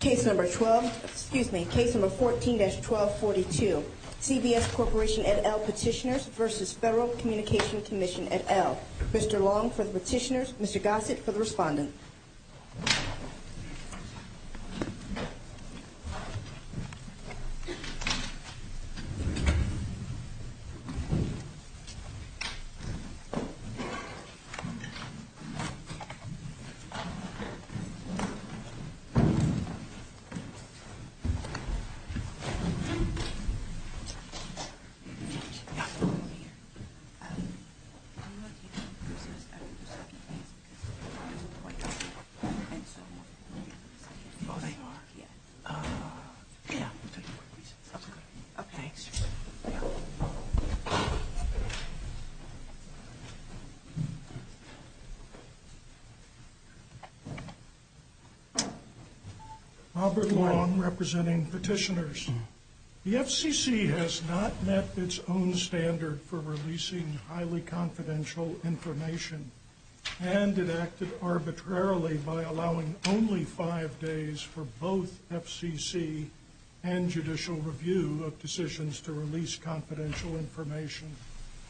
Case number 12, excuse me, case number 14-1242, CBS Corporation et al petitioners versus Federal Communication Commission et al. Mr. Long for the petitioners, Mr. Gossett for the respondent. I'm going to take your questions after the second phase because we're running out of time. Robert Long representing petitioners. The FCC has not met its own standard for releasing highly confidential information and it acted arbitrarily by allowing only five days for both FCC and judicial review of decisions to release confidential information.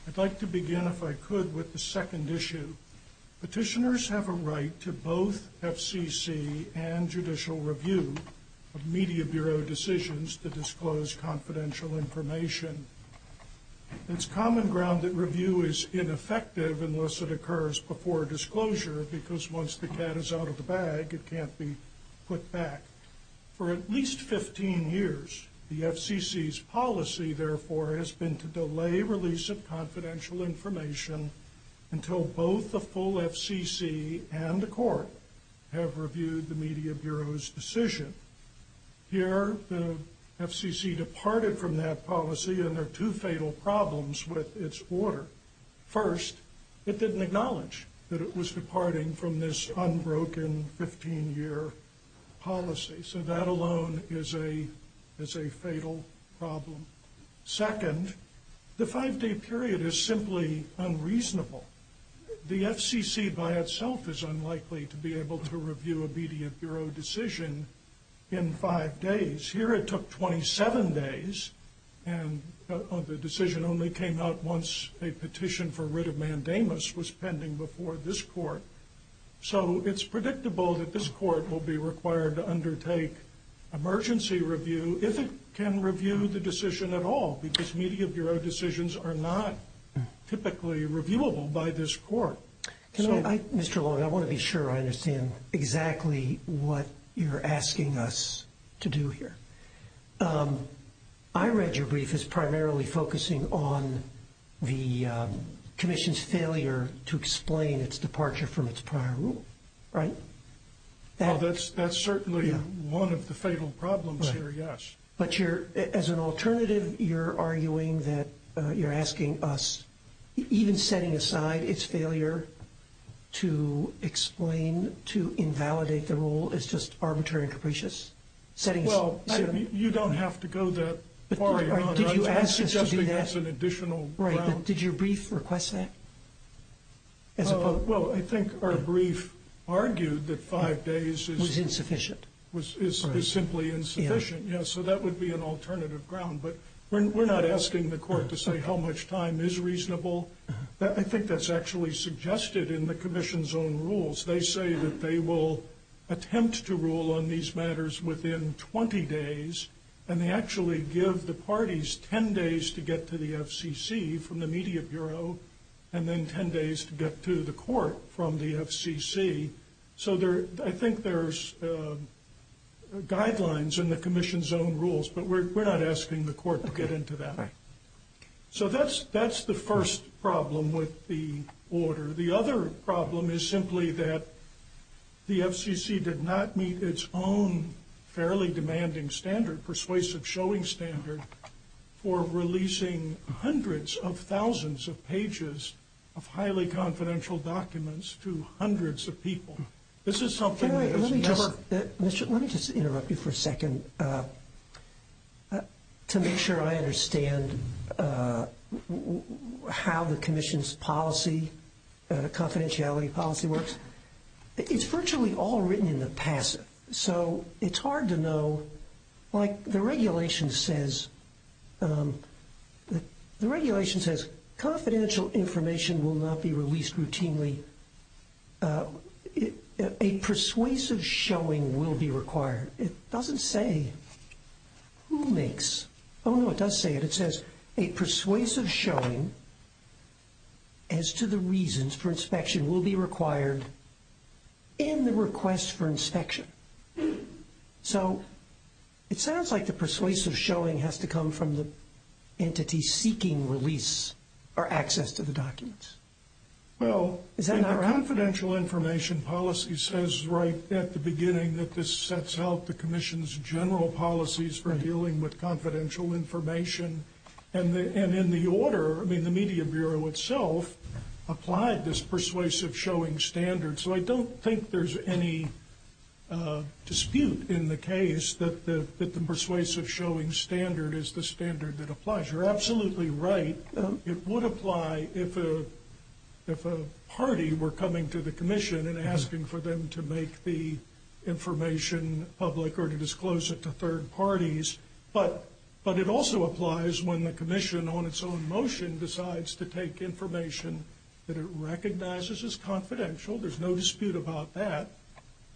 I'd like to begin if I could with the second issue. Petitioners have a right to both FCC and judicial review of media bureau decisions to disclose confidential information. It's common ground that review is ineffective unless it occurs before disclosure because once the cat is out of the bag, it can't be put back. For at least 15 years, the FCC's policy, therefore, has been to delay release of confidential information until both the full FCC and the court have reviewed the media bureau's decision. Here, the FCC departed from that policy and there are two fatal problems with its order. First, it didn't acknowledge that it was departing from this unbroken 15-year policy. So that alone is a fatal problem. Second, the five-day period is simply unreasonable. The FCC by itself is unlikely to be able to review a media bureau decision in five days. Here, it took 27 days and the decision only came out once a petition for writ of mandamus was pending before this court. So it's predictable that this court will be required to undertake emergency review if it can review the decision at all because media bureau decisions are not typically reviewable by this court. Mr. Long, I want to be sure I understand exactly what you're asking us to do here. I read your brief as primarily focusing on the commission's failure to explain its departure from its prior rule, right? That's certainly one of the fatal problems here, yes. But as an alternative, you're arguing that you're asking us, even setting aside its failure to explain, to invalidate the rule is just arbitrary and capricious? Well, you don't have to go that far. I'm suggesting that's an additional round. Did your brief request that? Well, I think our brief argued that five days is... Was insufficient. Is simply insufficient, yes. So that would be an alternative ground. But we're not asking the court to say how much time is reasonable. I think that's actually suggested in the commission's own rules. They say that they will attempt to rule on these matters within 20 days, and they actually give the parties 10 days to get to the FCC from the media bureau and then 10 days to get to the court from the FCC. So I think there's guidelines in the commission's own rules, but we're not asking the court to get into that. So that's the first problem with the order. The other problem is simply that the FCC did not meet its own fairly demanding standard, persuasive showing standard, for releasing hundreds of thousands of pages of highly confidential documents to hundreds of people. Let me just interrupt you for a second to make sure I understand how the commission's policy, confidentiality policy works. It's virtually all written in the passive. It's hard to know. The regulation says confidential information will not be released routinely. A persuasive showing will be required. It doesn't say who makes... Oh, no, it does say it. It says a persuasive showing as to the reasons for inspection will be required in the request for inspection. So it sounds like the persuasive showing has to come from the entity seeking release or access to the documents. Well... Is that not right? The confidential information policy says right at the beginning that this sets out the commission's general policies for dealing with confidential information. And in the order, I mean, the media bureau itself applied this persuasive showing standard. So I don't think there's any dispute in the case that the persuasive showing standard is the standard that applies. You're absolutely right. It would apply if a party were coming to the commission and asking for them to make the information public or to disclose it to third parties. But it also applies when the commission on its own motion decides to take information that it recognizes as confidential. There's no dispute about that.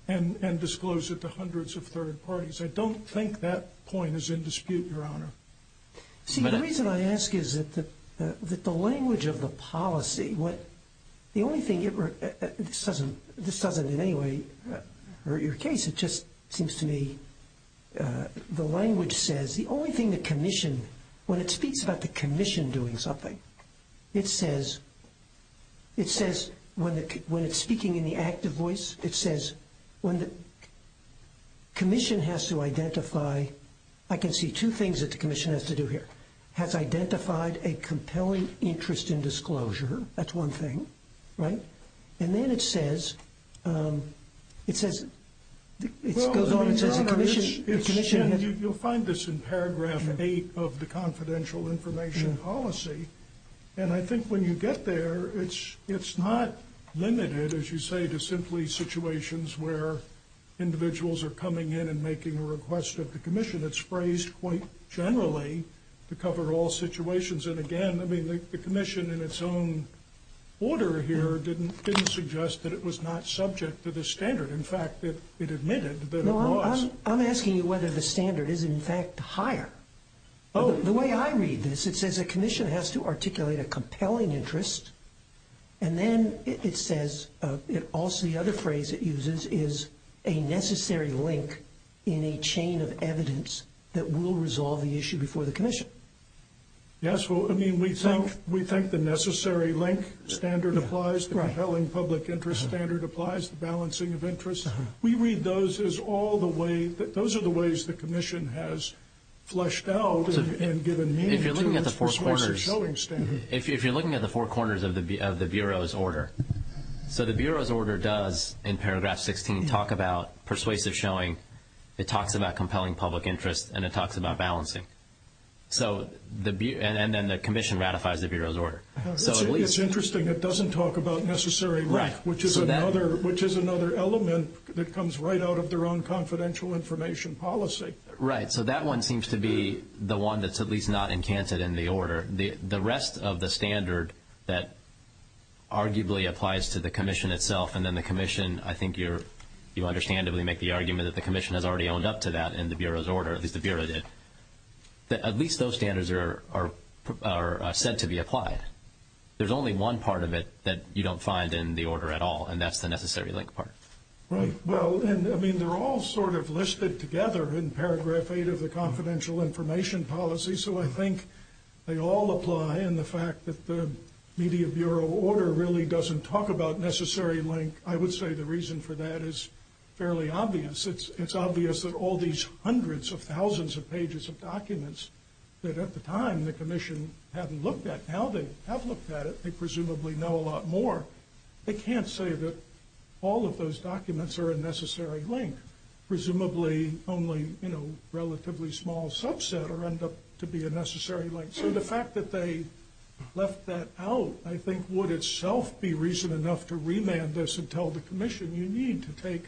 And disclose it to hundreds of third parties. I don't think that point is in dispute, Your Honor. See, the reason I ask is that the language of the policy, the only thing it... This doesn't in any way hurt your case. It just seems to me the language says the only thing the commission... When it speaks about the commission doing something, it says... It says when it's speaking in the active voice, it says when the commission has to identify... I can see two things that the commission has to do here. Has identified a compelling interest in disclosure. That's one thing. Right? And then it says... It says... It goes on and says the commission... You'll find this in paragraph 8 of the confidential information policy. And I think when you get there, it's not limited, as you say, to simply situations where individuals are coming in and making a request of the commission. It's phrased quite generally to cover all situations. And, again, I mean, the commission in its own order here didn't suggest that it was not subject to the standard. In fact, it admitted that it was. I'm asking you whether the standard is, in fact, higher. The way I read this, it says a commission has to articulate a compelling interest. And then it says... Also, the other phrase it uses is a necessary link in a chain of evidence that will resolve the issue before the commission. Yes, well, I mean, we think the necessary link standard applies. The compelling public interest standard applies. The balancing of interests. We read those as all the way... Those are the ways the commission has fleshed out and given meaning to this. If you're looking at the four corners of the Bureau's order, so the Bureau's order does, in paragraph 16, talk about persuasive showing. It talks about compelling public interest, and it talks about balancing. And then the commission ratifies the Bureau's order. It's interesting it doesn't talk about necessary link, which is another element that comes right out of their own confidential information policy. Right, so that one seems to be the one that's at least not encanted in the order. The rest of the standard that arguably applies to the commission itself, and then the commission, I think you understandably make the argument that the commission has already owned up to that in the Bureau's order, at least the Bureau did. At least those standards are said to be applied. There's only one part of it that you don't find in the order at all, and that's the necessary link part. Right, well, I mean, they're all sort of listed together in paragraph 8 of the confidential information policy, so I think they all apply. And the fact that the media Bureau order really doesn't talk about necessary link, I would say the reason for that is fairly obvious. It's obvious that all these hundreds of thousands of pages of documents that at the time the commission hadn't looked at, now they have looked at it. They presumably know a lot more. They can't say that all of those documents are a necessary link, presumably only, you know, relatively small subset or end up to be a necessary link. So the fact that they left that out, I think, would itself be reason enough to remand this and tell the commission you need to take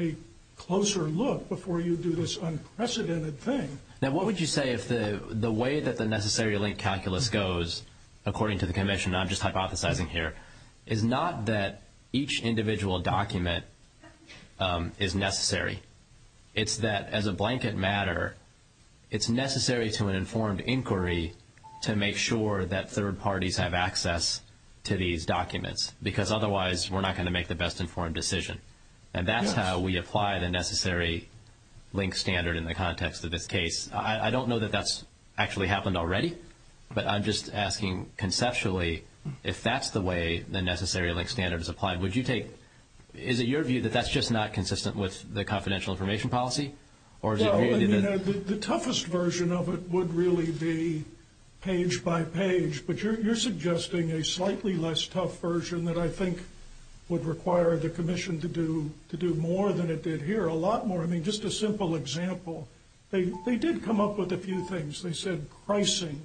a closer look before you do this unprecedented thing. Now, what would you say if the way that the necessary link calculus goes, according to the commission, and I'm just hypothesizing here, is not that each individual document is necessary. It's that as a blanket matter, it's necessary to an informed inquiry to make sure that third parties have access to these documents, because otherwise we're not going to make the best informed decision. And that's how we apply the necessary link standard in the context of this case. I don't know that that's actually happened already, but I'm just asking conceptually if that's the way the necessary link standard is applied. Would you take, is it your view that that's just not consistent with the confidential information policy? Well, I mean, the toughest version of it would really be page by page, but you're suggesting a slightly less tough version that I think would require the commission to do more than it did here, a lot more. I mean, just a simple example. They did come up with a few things. They said pricing.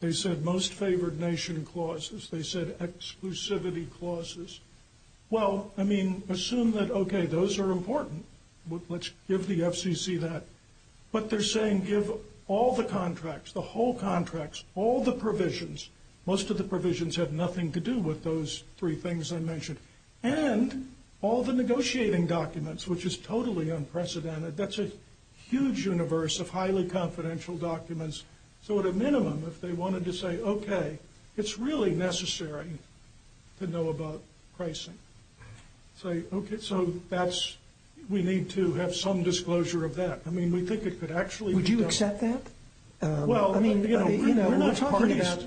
They said most favored nation clauses. They said exclusivity clauses. Well, I mean, assume that, okay, those are important. Let's give the FCC that. But they're saying give all the contracts, the whole contracts, all the provisions. Most of the provisions have nothing to do with those three things I mentioned. And all the negotiating documents, which is totally unprecedented. That's a huge universe of highly confidential documents. So at a minimum, if they wanted to say, okay, it's really necessary to know about pricing. Say, okay, so that's, we need to have some disclosure of that. I mean, we think it could actually be done. Would you accept that? Well, I mean, you know, we're not talking about.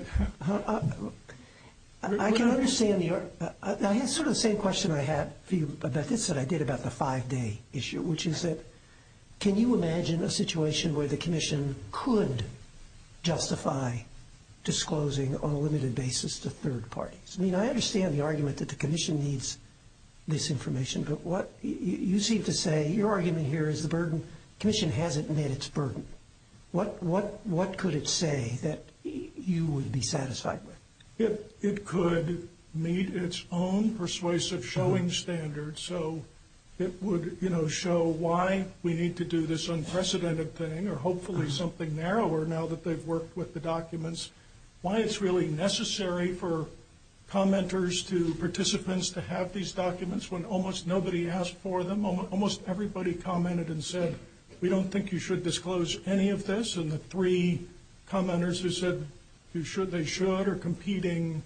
I can understand your, I had sort of the same question I had for you about this that I did about the five-day issue, which is that can you imagine a situation where the commission could justify disclosing on a limited basis to third parties? I mean, I understand the argument that the commission needs this information. But what you seem to say, your argument here is the commission hasn't met its burden. What could it say that you would be satisfied with? It could meet its own persuasive showing standards. So it would, you know, show why we need to do this unprecedented thing or hopefully something narrower now that they've worked with the documents. Why it's really necessary for commenters to participants to have these documents when almost nobody asked for them. Almost everybody commented and said, we don't think you should disclose any of this. And the three commenters who said they should are competing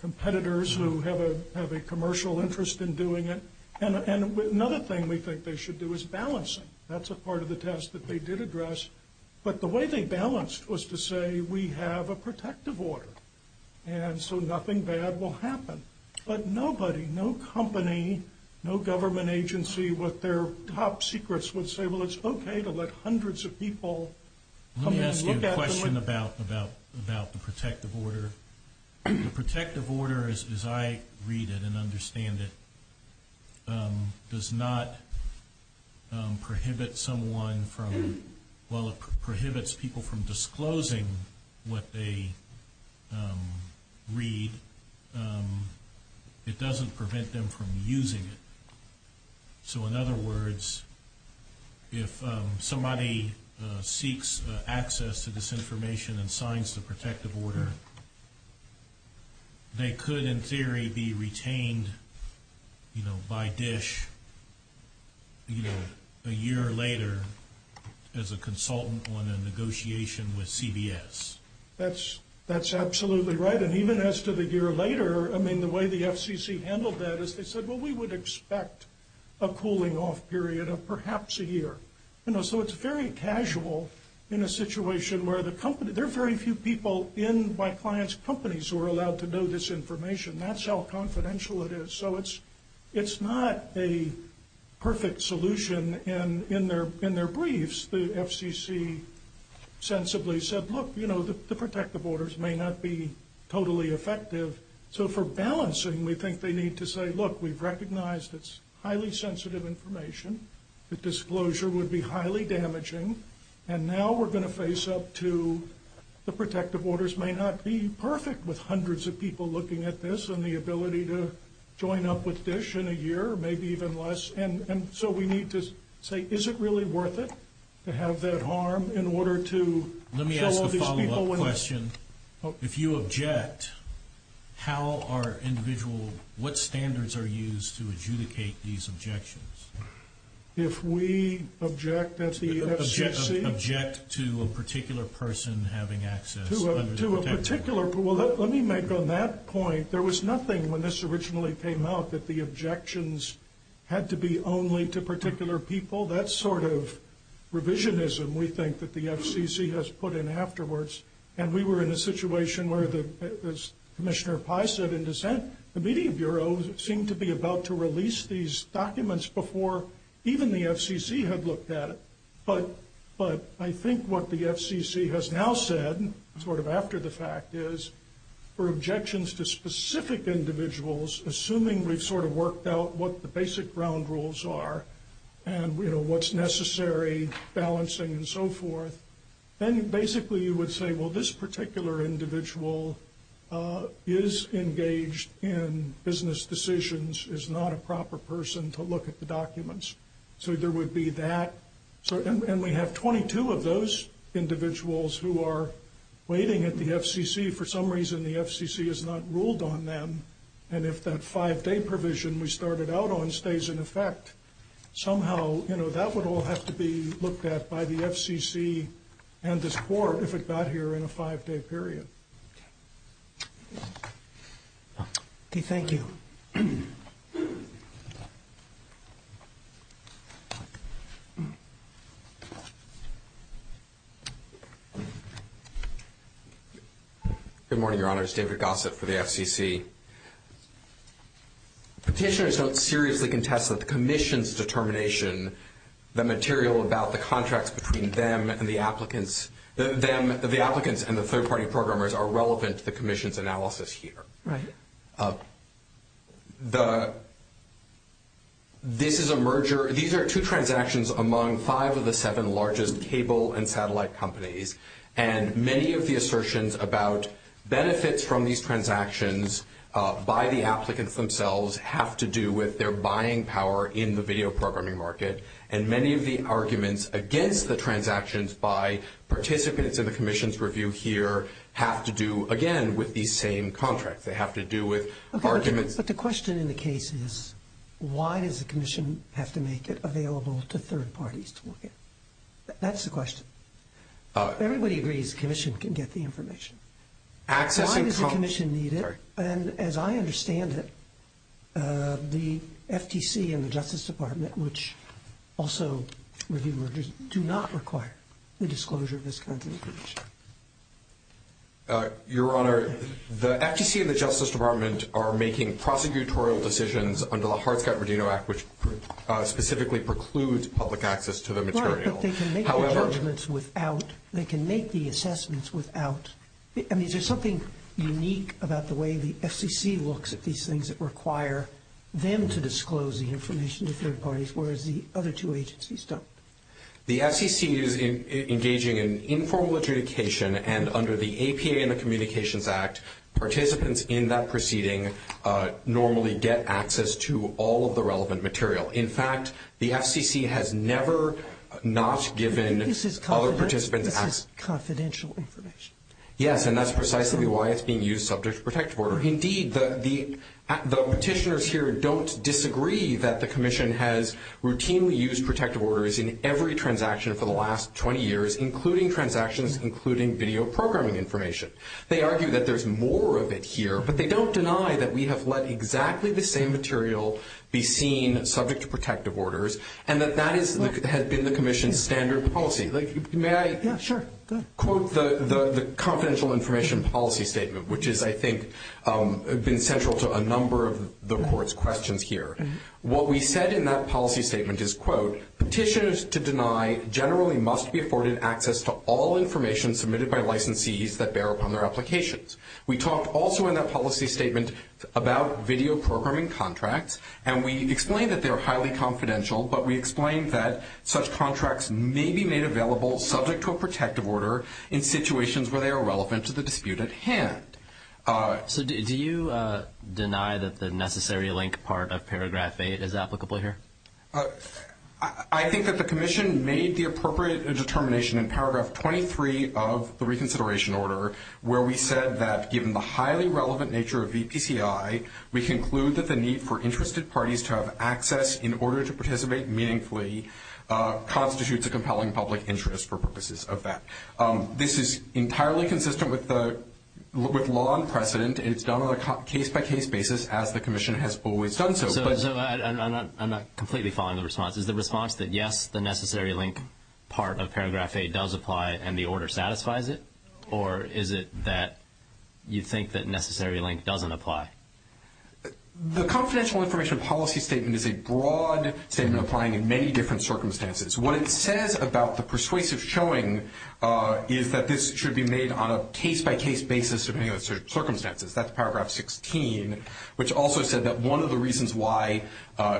competitors who have a commercial interest in doing it. And another thing we think they should do is balance it. That's a part of the test that they did address. But the way they balanced was to say we have a protective order. And so nothing bad will happen. But nobody, no company, no government agency with their top secrets would say, well, it's okay to let hundreds of people come in and look at them. Let me ask you a question about the protective order. The protective order, as I read it and understand it, does not prohibit someone from, while it prohibits people from disclosing what they read, it doesn't prevent them from using it. So in other words, if somebody seeks access to this information and signs the protective order, they could in theory be retained by DISH a year later as a consultant on a negotiation with CBS. That's absolutely right. And even as to the year later, I mean, the way the FCC handled that is they said, well, we would expect a cooling off period of perhaps a year. You know, so it's very casual in a situation where the company, there are very few people in my clients' companies who are allowed to know this information. That's how confidential it is. So it's not a perfect solution in their briefs. The FCC sensibly said, look, you know, the protective orders may not be totally effective. So for balancing, we think they need to say, look, we've recognized it's highly sensitive information. The disclosure would be highly damaging. And now we're going to face up to the protective orders may not be perfect with hundreds of people looking at this and the ability to join up with DISH in a year, maybe even less. And so we need to say, is it really worth it to have that harm in order to follow these people? Let me ask a follow-up question. If you object, how are individual, what standards are used to adjudicate these objections? If we object at the FCC? Object to a particular person having access under the protective order. To a particular, well, let me make on that point, there was nothing when this originally came out that the objections had to be only to particular people. That's sort of revisionism, we think, that the FCC has put in afterwards. And we were in a situation where, as Commissioner Pai said in dissent, the Media Bureau seemed to be about to release these documents before even the FCC had looked at it. But I think what the FCC has now said, sort of after the fact, is for objections to specific individuals, assuming we've sort of worked out what the basic ground rules are and what's necessary, balancing and so forth, then basically you would say, well, this particular individual is engaged in business decisions, is not a proper person to look at the documents. So there would be that. And we have 22 of those individuals who are waiting at the FCC. For some reason, the FCC has not ruled on them. And if that five-day provision we started out on stays in effect, somehow that would all have to be looked at by the FCC and this Court if it got here in a five-day period. Okay, thank you. Good morning, Your Honors. David Gossett for the FCC. Petitioners don't seriously contest that the Commission's determination, the material about the contracts between them and the applicants, the applicants and the third-party programmers are relevant to the Commission's analysis here. Right. This is a merger. These are two transactions among five of the seven largest cable and satellite companies. And many of the assertions about benefits from these transactions by the applicants themselves have to do with their buying power in the video programming market. And many of the arguments against the transactions by participants in the Commission's review here have to do, again, with these same contracts. They have to do with arguments. But the question in the case is, why does the Commission have to make it available to third parties to look at? That's the question. Everybody agrees the Commission can get the information. Why does the Commission need it? And as I understand it, the FTC and the Justice Department, which also review mergers, do not require the disclosure of this kind of information. Your Honor, the FTC and the Justice Department are making prosecutorial decisions under the Hartscott-Rodino Act, which specifically precludes public access to the material. Right, but they can make the judgments without. They can make the assessments without. I mean, is there something unique about the way the FCC looks at these things that require them to disclose the information to third parties, whereas the other two agencies don't? The FCC is engaging in informal adjudication, and under the APA and the Communications Act, participants in that proceeding normally get access to all of the relevant material. In fact, the FCC has never not given other participants access. That's confidential information. Yes, and that's precisely why it's being used subject to protective order. Indeed, the petitioners here don't disagree that the Commission has routinely used protective orders in every transaction for the last 20 years, including transactions, including video programming information. They argue that there's more of it here, but they don't deny that we have let exactly the same material be seen subject to protective orders and that that has been the Commission's standard policy. May I quote the confidential information policy statement, which has, I think, been central to a number of the Court's questions here. What we said in that policy statement is, quote, Petitioners to deny generally must be afforded access to all information submitted by licensees that bear upon their applications. We talked also in that policy statement about video programming contracts, and we explained that they are highly confidential, but we explained that such contracts may be made available subject to a protective order in situations where they are relevant to the dispute at hand. So do you deny that the necessary link part of paragraph 8 is applicable here? I think that the Commission made the appropriate determination in paragraph 23 of the reconsideration order where we said that given the highly relevant nature of VPCI, we conclude that the need for interested parties to have access in order to participate meaningfully constitutes a compelling public interest for purposes of that. This is entirely consistent with law and precedent. It's done on a case-by-case basis, as the Commission has always done so. So I'm not completely following the response. Is the response that, yes, the necessary link part of paragraph 8 does apply and the order satisfies it, or is it that you think that necessary link doesn't apply? The confidential information policy statement is a broad statement applying in many different circumstances. What it says about the persuasive showing is that this should be made on a case-by-case basis depending on the circumstances. That's paragraph 16, which also said that one of the reasons why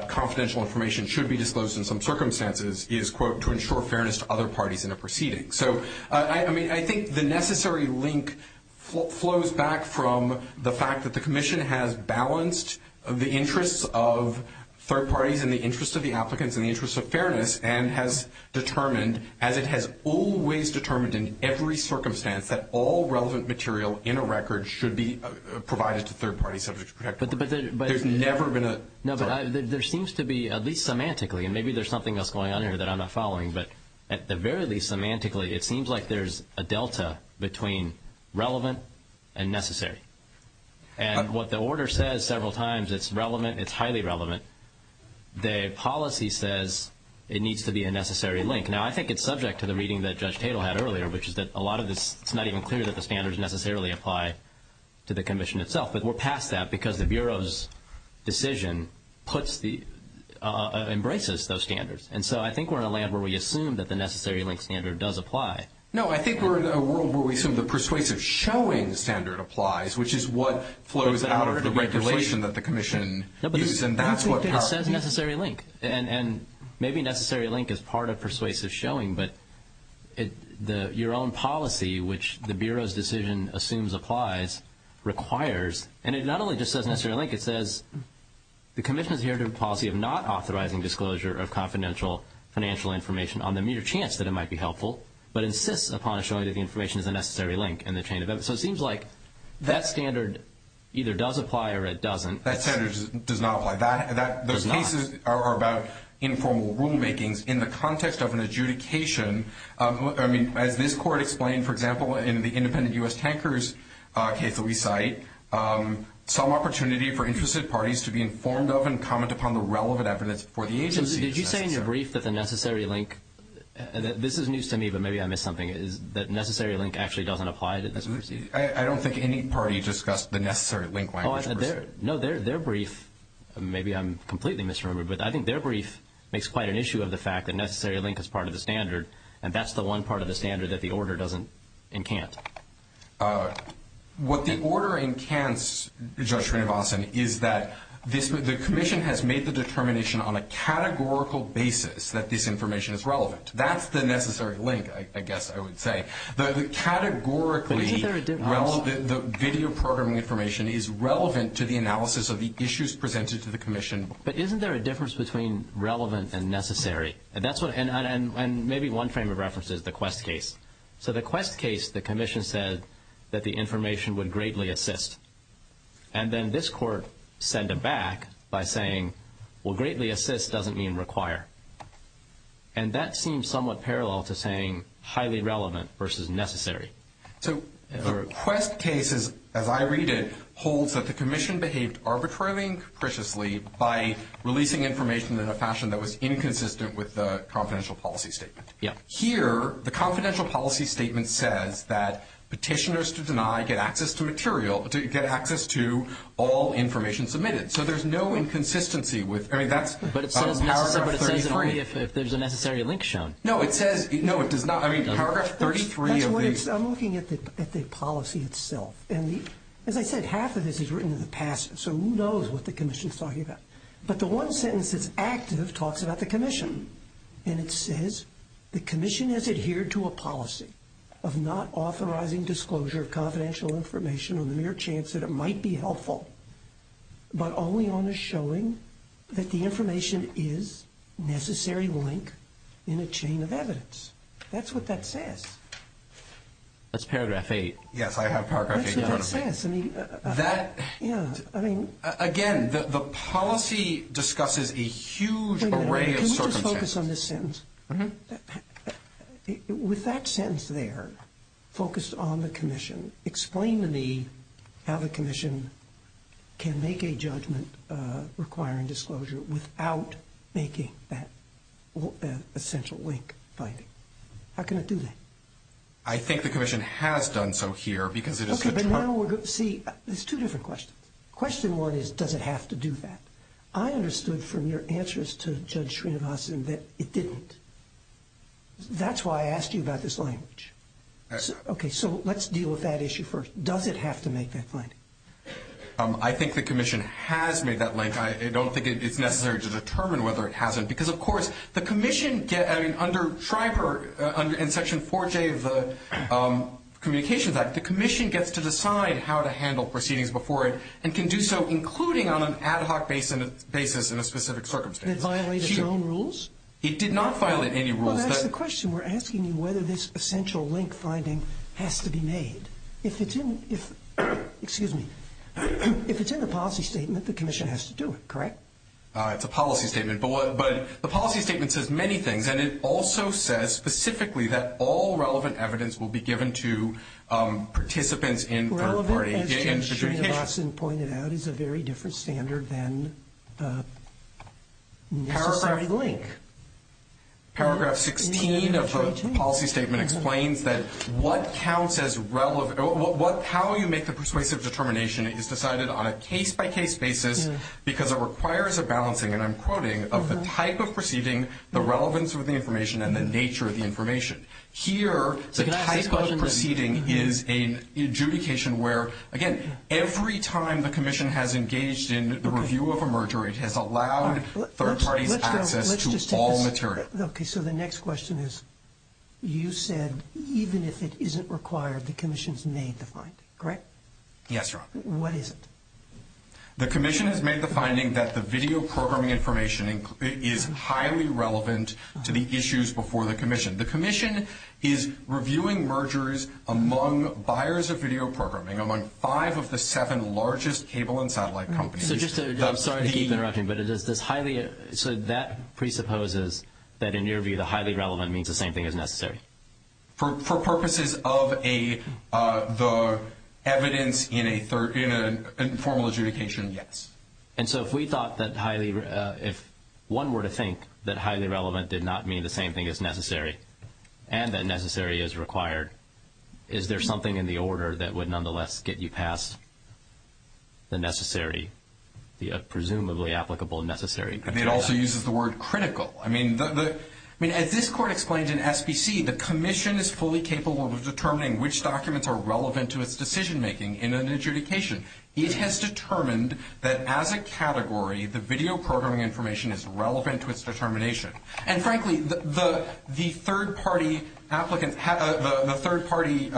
confidential information should be disclosed in some circumstances is, quote, to ensure fairness to other parties in a proceeding. So, I mean, I think the necessary link flows back from the fact that the Commission has balanced the interests of third parties and the interests of the applicants and the interests of fairness and has determined, as it has always determined in every circumstance, that all relevant material in a record should be provided to third-party subjects to protect them. There's never been a – No, but there seems to be, at least semantically, and maybe there's something else going on here that I'm not following, but at the very least, semantically, it seems like there's a delta between relevant and necessary. And what the order says several times, it's relevant, it's highly relevant. The policy says it needs to be a necessary link. Now, I think it's subject to the reading that Judge Tatel had earlier, which is that a lot of this, it's not even clear that the standards necessarily apply to the Commission itself. But we're past that because the Bureau's decision puts the – embraces those standards. And so I think we're in a land where we assume that the necessary link standard does apply. No, I think we're in a world where we assume the persuasive showing standard applies, which is what flows out of the regulation that the Commission uses. And that's what – It says necessary link. And maybe necessary link is part of persuasive showing, but your own policy, which the Bureau's decision assumes applies, requires – and it not only just says necessary link, it says, the Commission has adhered to a policy of not authorizing disclosure of confidential financial information on the mere chance that it might be helpful, but insists upon showing that the information is a necessary link in the chain of evidence. So it seems like that standard either does apply or it doesn't. That standard does not apply. That – Does not. Those cases are about informal rulemakings in the context of an adjudication. I mean, as this Court explained, for example, in the independent U.S. tankers case that we cite, some opportunity for interested parties to be informed of and comment upon the relevant evidence for the agency is necessary. Did you say in your brief that the necessary link – this is news to me, but maybe I missed something – is that necessary link actually doesn't apply to persuasive? I don't think any party discussed the necessary link language. No, their brief – maybe I'm completely misremembered, but I think their brief makes quite an issue of the fact that necessary link is part of the standard, and that's the one part of the standard that the order doesn't and can't. What the order encants, Judge Rinovason, is that the Commission has made the determination on a categorical basis that this information is relevant. That's the necessary link, I guess I would say. The categorically relevant – But isn't there a difference? The video programming information is relevant to the analysis of the issues presented to the Commission. But isn't there a difference between relevant and necessary? And that's what – and maybe one frame of reference is the Quest case. So the Quest case, the Commission said that the information would greatly assist. And then this Court sent it back by saying, well, greatly assist doesn't mean require. And that seems somewhat parallel to saying highly relevant versus necessary. So the Quest case, as I read it, holds that the Commission behaved arbitrarily and capriciously by releasing information in a fashion that was inconsistent with the confidential policy statement. Here, the confidential policy statement says that petitioners to deny get access to material – get access to all information submitted. So there's no inconsistency with – I mean, that's paragraph 33. But it says only if there's a necessary link shown. No, it says – no, it does not. I mean, paragraph 33 of the – I'm looking at the policy itself. And as I said, half of this is written in the past, so who knows what the Commission is talking about. But the one sentence that's active talks about the Commission. And it says the Commission has adhered to a policy of not authorizing disclosure of confidential information on the mere chance that it might be helpful, but only on the showing that the information is necessary link in a chain of evidence. That's what that says. That's paragraph 8. Yes, I have paragraph 8 in front of me. That's what that says. I mean, that – Yeah, I mean – Again, the policy discusses a huge array of circumstances. Can we just focus on this sentence? Mm-hmm. With that sentence there, focused on the Commission, explain to me how the Commission can make a judgment requiring disclosure without making that essential link finding. How can it do that? I think the Commission has done so here because it is a – Okay, but now we're – see, there's two different questions. Question one is, does it have to do that? I understood from your answers to Judge Srinivasan that it didn't. That's why I asked you about this language. Okay, so let's deal with that issue first. Does it have to make that finding? I think the Commission has made that link. I don't think it's necessary to determine whether it hasn't because, of course, the Commission – I mean, under Schreiber in Section 4J of the Communications Act, the Commission gets to decide how to handle proceedings before it and can do so including on an ad hoc basis in a specific circumstance. Did it violate its own rules? It did not violate any rules. Well, that's the question. We're asking you whether this essential link finding has to be made. If it's in – excuse me. If it's in the policy statement, the Commission has to do it, correct? It's a policy statement, but the policy statement says many things, and it also says specifically that all relevant evidence will be given to participants in third-party adjudication. Relevant, as Judge Srinivasan pointed out, is a very different standard than necessary link. Paragraph 16 of the policy statement explains that what counts as relevant – how you make the persuasive determination is decided on a case-by-case basis because it requires a balancing, and I'm quoting, of the type of proceeding, the relevance of the information, and the nature of the information. Here, the type of proceeding is an adjudication where, again, every time the Commission has engaged in the review of a merger, it has allowed third parties access to all material. Okay, so the next question is you said even if it isn't required, the Commission's made the finding, correct? Yes, Your Honor. What is it? The Commission has made the finding that the video programming information is highly relevant to the issues before the Commission. The Commission is reviewing mergers among buyers of video programming, among five of the seven largest cable and satellite companies. So just to – I'm sorry to keep interrupting, but is this highly – so that presupposes that in your view the highly relevant means the same thing as necessary? For purposes of the evidence in a formal adjudication, yes. And so if we thought that highly – if one were to think that highly relevant did not mean the same thing as necessary and that necessary is required, is there something in the order that would nonetheless get you past the necessary, the presumably applicable necessary criteria? It also uses the word critical. I mean, as this Court explained in SPC, the Commission is fully capable of determining which documents are relevant to its decision-making in an adjudication. It has determined that as a category, the video programming information is relevant to its determination. And frankly, the third-party applicants – the third-party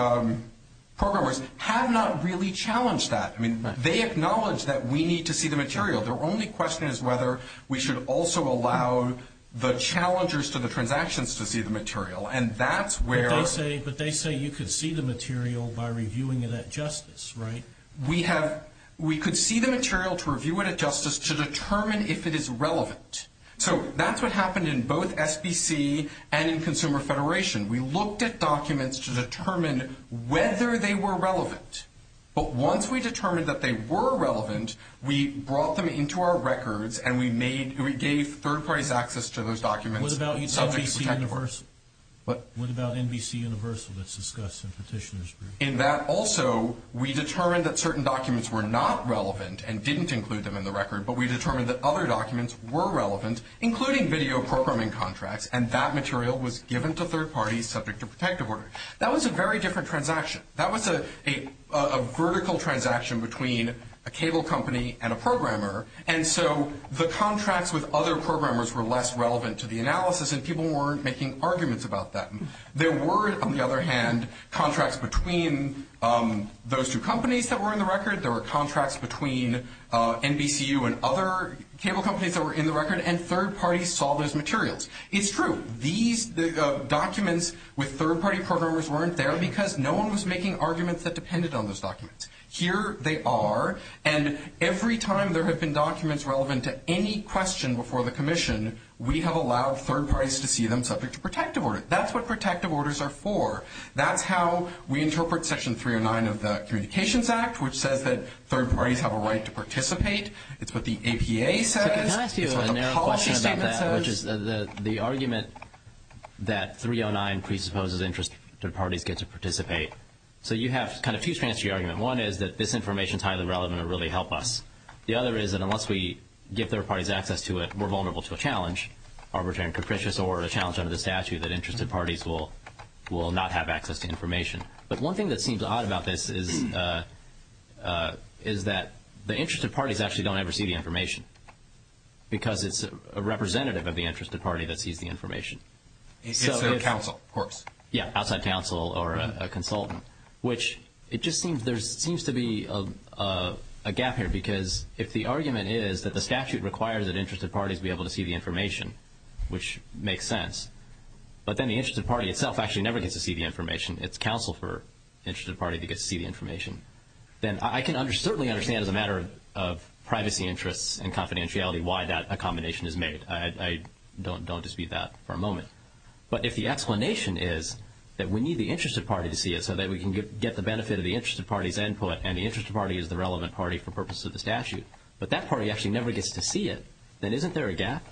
programmers have not really challenged that. I mean, they acknowledge that we need to see the material. Their only question is whether we should also allow the challengers to the transactions to see the material. And that's where – But they say you could see the material by reviewing it at justice, right? We have – we could see the material to review it at justice to determine if it is relevant. So that's what happened in both SPC and in Consumer Federation. We looked at documents to determine whether they were relevant. But once we determined that they were relevant, we brought them into our records and we made – we gave third-parties access to those documents. What about NBCUniversal? What? What about NBCUniversal that's discussed in Petitioners Group? In that also, we determined that certain documents were not relevant and didn't include them in the record, but we determined that other documents were relevant, including video programming contracts, and that material was given to third-parties subject to protective order. That was a very different transaction. That was a vertical transaction between a cable company and a programmer, and so the contracts with other programmers were less relevant to the analysis, and people weren't making arguments about that. There were, on the other hand, contracts between those two companies that were in the record. There were contracts between NBCU and other cable companies that were in the record, and third-parties saw those materials. It's true. These documents with third-party programmers weren't there because no one was making arguments that depended on those documents. Here they are, and every time there have been documents relevant to any question before the commission, we have allowed third-parties to see them subject to protective order. That's what protective orders are for. That's how we interpret Section 309 of the Communications Act, which says that third-parties have a right to participate. It's what the APA says. It's what the policy statement says. The argument that 309 presupposes interested parties get to participate. You have two strands to your argument. One is that this information is highly relevant and will really help us. The other is that unless we give third-parties access to it, we're vulnerable to a challenge, arbitrary and capricious, or a challenge under the statute that interested parties will not have access to information. But one thing that seems odd about this is that the interested parties actually don't ever see the information because it's a representative of the interested party that sees the information. It's their counsel, of course. Yeah, outside counsel or a consultant, which it just seems there seems to be a gap here because if the argument is that the statute requires that interested parties be able to see the information, which makes sense, but then the interested party itself actually never gets to see the information. It's counsel for the interested party that gets to see the information. Then I can certainly understand as a matter of privacy interests and confidentiality why that accommodation is made. I don't dispute that for a moment. But if the explanation is that we need the interested party to see it so that we can get the benefit of the interested party's input and the interested party is the relevant party for purposes of the statute, but that party actually never gets to see it, then isn't there a gap?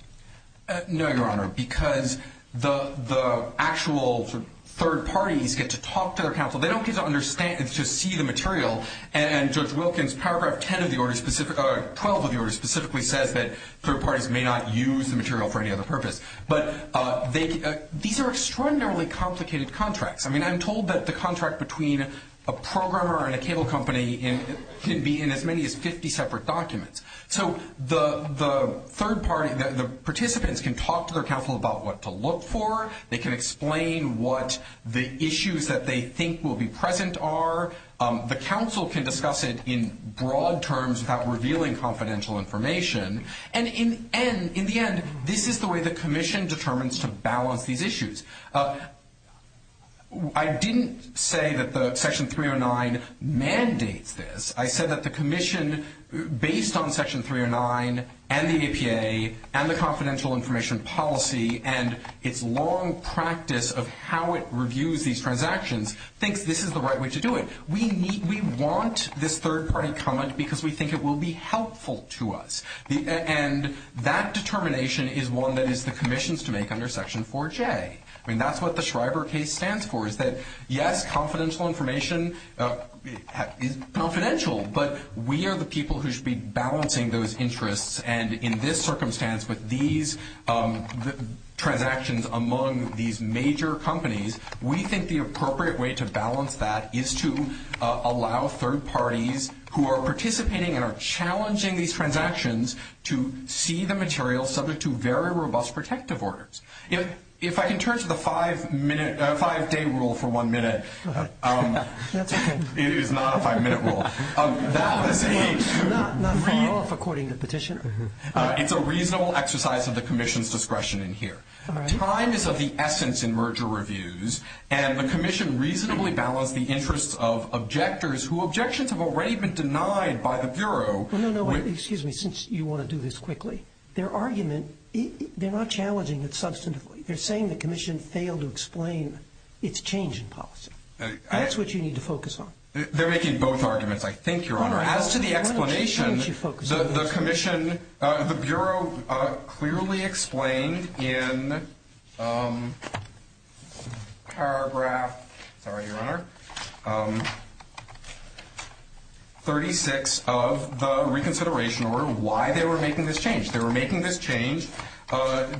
No, Your Honor, because the actual third-parties get to talk to their counsel. They don't get to see the material. And Judge Wilkins, paragraph 12 of the order specifically says that third-parties may not use the material for any other purpose. But these are extraordinarily complicated contracts. I mean, I'm told that the contract between a programmer and a cable company can be in as many as 50 separate documents. So the participants can talk to their counsel about what to look for. They can explain what the issues that they think will be present are. The counsel can discuss it in broad terms without revealing confidential information. And in the end, this is the way the commission determines to balance these issues. I didn't say that Section 309 mandates this. I said that the commission, based on Section 309 and the APA and the confidential information policy and its long practice of how it reviews these transactions, thinks this is the right way to do it. We want this third-party comment because we think it will be helpful to us. And that determination is one that is the commission's to make under Section 4J. I mean, that's what the Shriver case stands for, is that, yes, confidential information is confidential, but we are the people who should be balancing those interests. And in this circumstance, with these transactions among these major companies, we think the appropriate way to balance that is to allow third parties who are participating and are challenging these transactions to see the material subject to very robust protective orders. If I can turn to the five-day rule for one minute. Go ahead. That's okay. It is not a five-minute rule. Not to fall off according to petitioner. It's a reasonable exercise of the commission's discretion in here. Time is of the essence in merger reviews, and the commission reasonably balanced the interests of objectors who objections have already been denied by the Bureau. No, no, excuse me, since you want to do this quickly. Their argument, they're not challenging it substantively. They're saying the commission failed to explain its change in policy. That's what you need to focus on. They're making both arguments, I think, Your Honor. As to the explanation, the commission, the Bureau clearly explained in paragraph 36 of the reconsideration order why they were making this change. They were making this change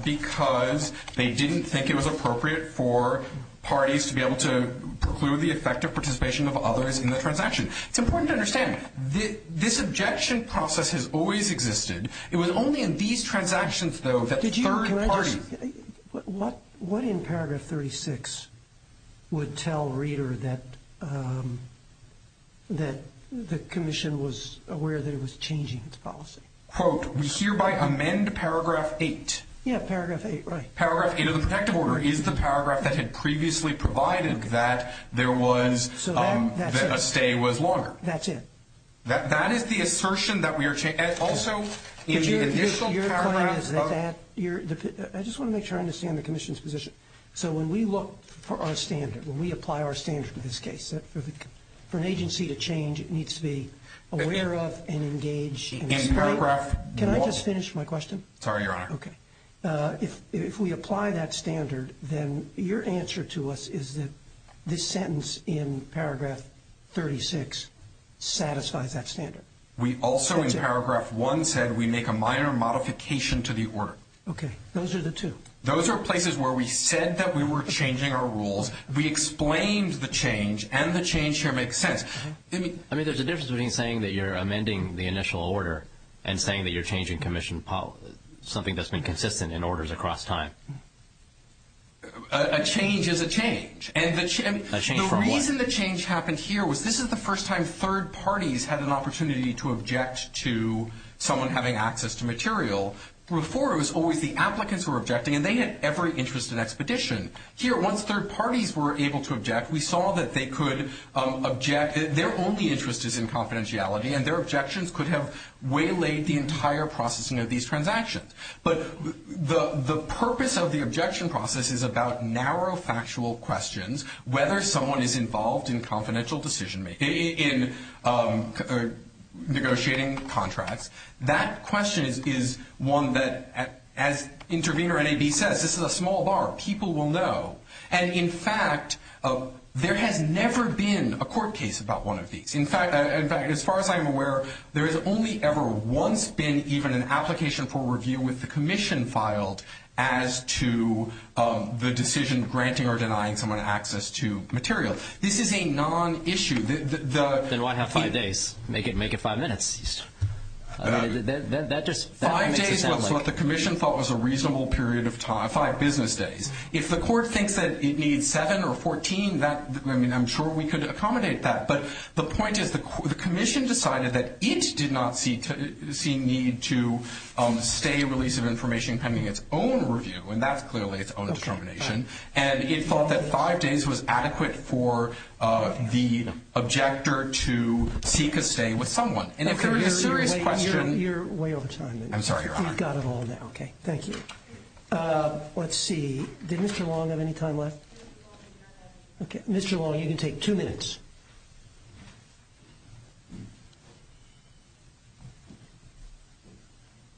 because they didn't think it was appropriate for parties to be able to It's important to understand, this objection process has always existed. It was only in these transactions, though, that the third party What in paragraph 36 would tell Reeder that the commission was aware that it was changing its policy? Quote, we hereby amend paragraph 8. Yeah, paragraph 8, right. Paragraph 8 of the protective order is the paragraph that had previously provided that there was So that's it. A stay was longer. That's it. That is the assertion that we are changing. Also, in the initial paragraph of Your point is that, I just want to make sure I understand the commission's position. So when we look for our standard, when we apply our standard in this case, for an agency to change, it needs to be aware of and engage In paragraph 12. Can I just finish my question? Sorry, Your Honor. Okay. If we apply that standard, then your answer to us is that this sentence in paragraph 36 satisfies that standard. We also, in paragraph 1, said we make a minor modification to the order. Okay. Those are the two. Those are places where we said that we were changing our rules. We explained the change, and the change here makes sense. I mean, there's a difference between saying that you're amending the initial order And saying that you're changing commission policy, something that's been consistent in orders across time. A change is a change. A change from what? The reason the change happened here was this is the first time third parties had an opportunity to object to someone having access to material. Before, it was always the applicants who were objecting, and they had every interest in expedition. Here, once third parties were able to object, we saw that they could object. Their only interest is in confidentiality, and their objections could have waylaid the entire processing of these transactions. But the purpose of the objection process is about narrow factual questions, whether someone is involved in confidential decision-making, in negotiating contracts. That question is one that, as intervener NAB says, this is a small bar. People will know. And, in fact, there has never been a court case about one of these. In fact, as far as I'm aware, there has only ever once been even an application for review with the commission filed as to the decision granting or denying someone access to material. This is a non-issue. Then why have five days? Make it five minutes. Five days was what the commission thought was a reasonable period of time, five business days. If the court thinks that it needs seven or 14, I mean, I'm sure we could accommodate that. But the point is the commission decided that it did not see need to stay release of information pending its own review, and that's clearly its own determination. And it thought that five days was adequate for the objector to seek a stay with someone. And if there is a serious question. You're way over time. I'm sorry, Your Honor. You've got it all now. Okay, thank you. Let's see. Did Mr. Long have any time left? Mr. Long, you can take two minutes.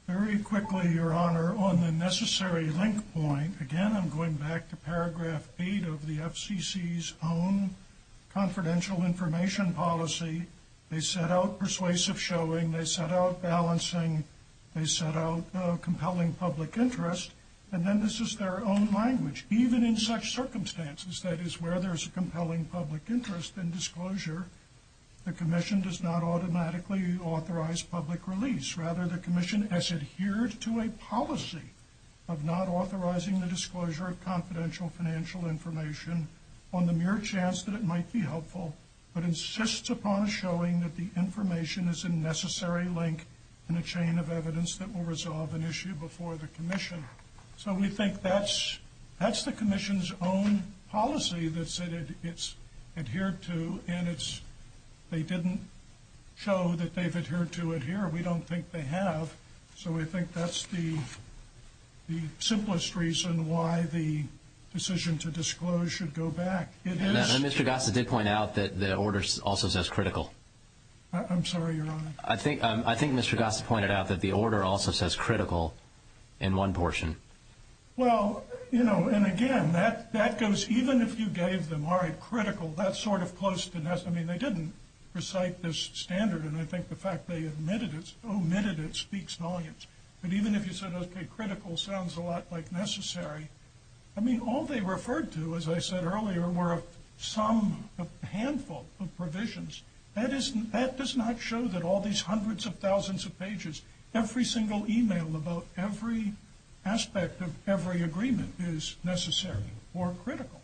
Very quickly, Your Honor, on the necessary link point. Again, I'm going back to paragraph eight of the FCC's own confidential information policy. They set out persuasive showing. They set out balancing. They set out compelling public interest. And then this is their own language. Even in such circumstances, that is where there's a compelling public interest in disclosure, the commission does not automatically authorize public release. Rather, the commission has adhered to a policy of not authorizing the disclosure of confidential financial information on the mere chance that it might be helpful, but insists upon showing that the information is a necessary link in a chain of evidence that will resolve an issue before the commission. So we think that's the commission's own policy that it's adhered to. And they didn't show that they've adhered to it here. We don't think they have. So we think that's the simplest reason why the decision to disclose should go back. Mr. Gossett did point out that the order also says critical. I'm sorry, Your Honor. I think Mr. Gossett pointed out that the order also says critical in one portion. Well, you know, and again, that goes even if you gave them, all right, critical, that's sort of close to necessary. I mean, they didn't recite this standard, and I think the fact they omitted it speaks volumes. But even if you said, okay, critical sounds a lot like necessary. I mean, all they referred to, as I said earlier, were a handful of provisions. That does not show that all these hundreds of thousands of pages, every single e-mail about every aspect of every agreement is necessary or critical.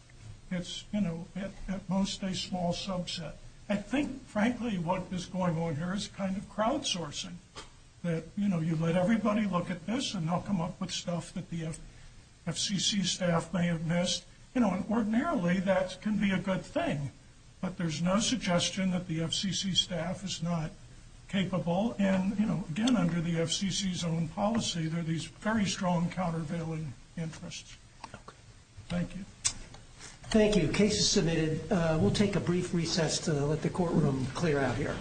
It's, you know, at most a small subset. I think, frankly, what is going on here is kind of crowdsourcing, that, you know, and everybody look at this and they'll come up with stuff that the FCC staff may have missed. You know, and ordinarily that can be a good thing, but there's no suggestion that the FCC staff is not capable. And, you know, again, under the FCC's own policy, there are these very strong countervailing interests. Thank you. Thank you. Case is submitted. We'll take a brief recess to let the courtroom clear out here.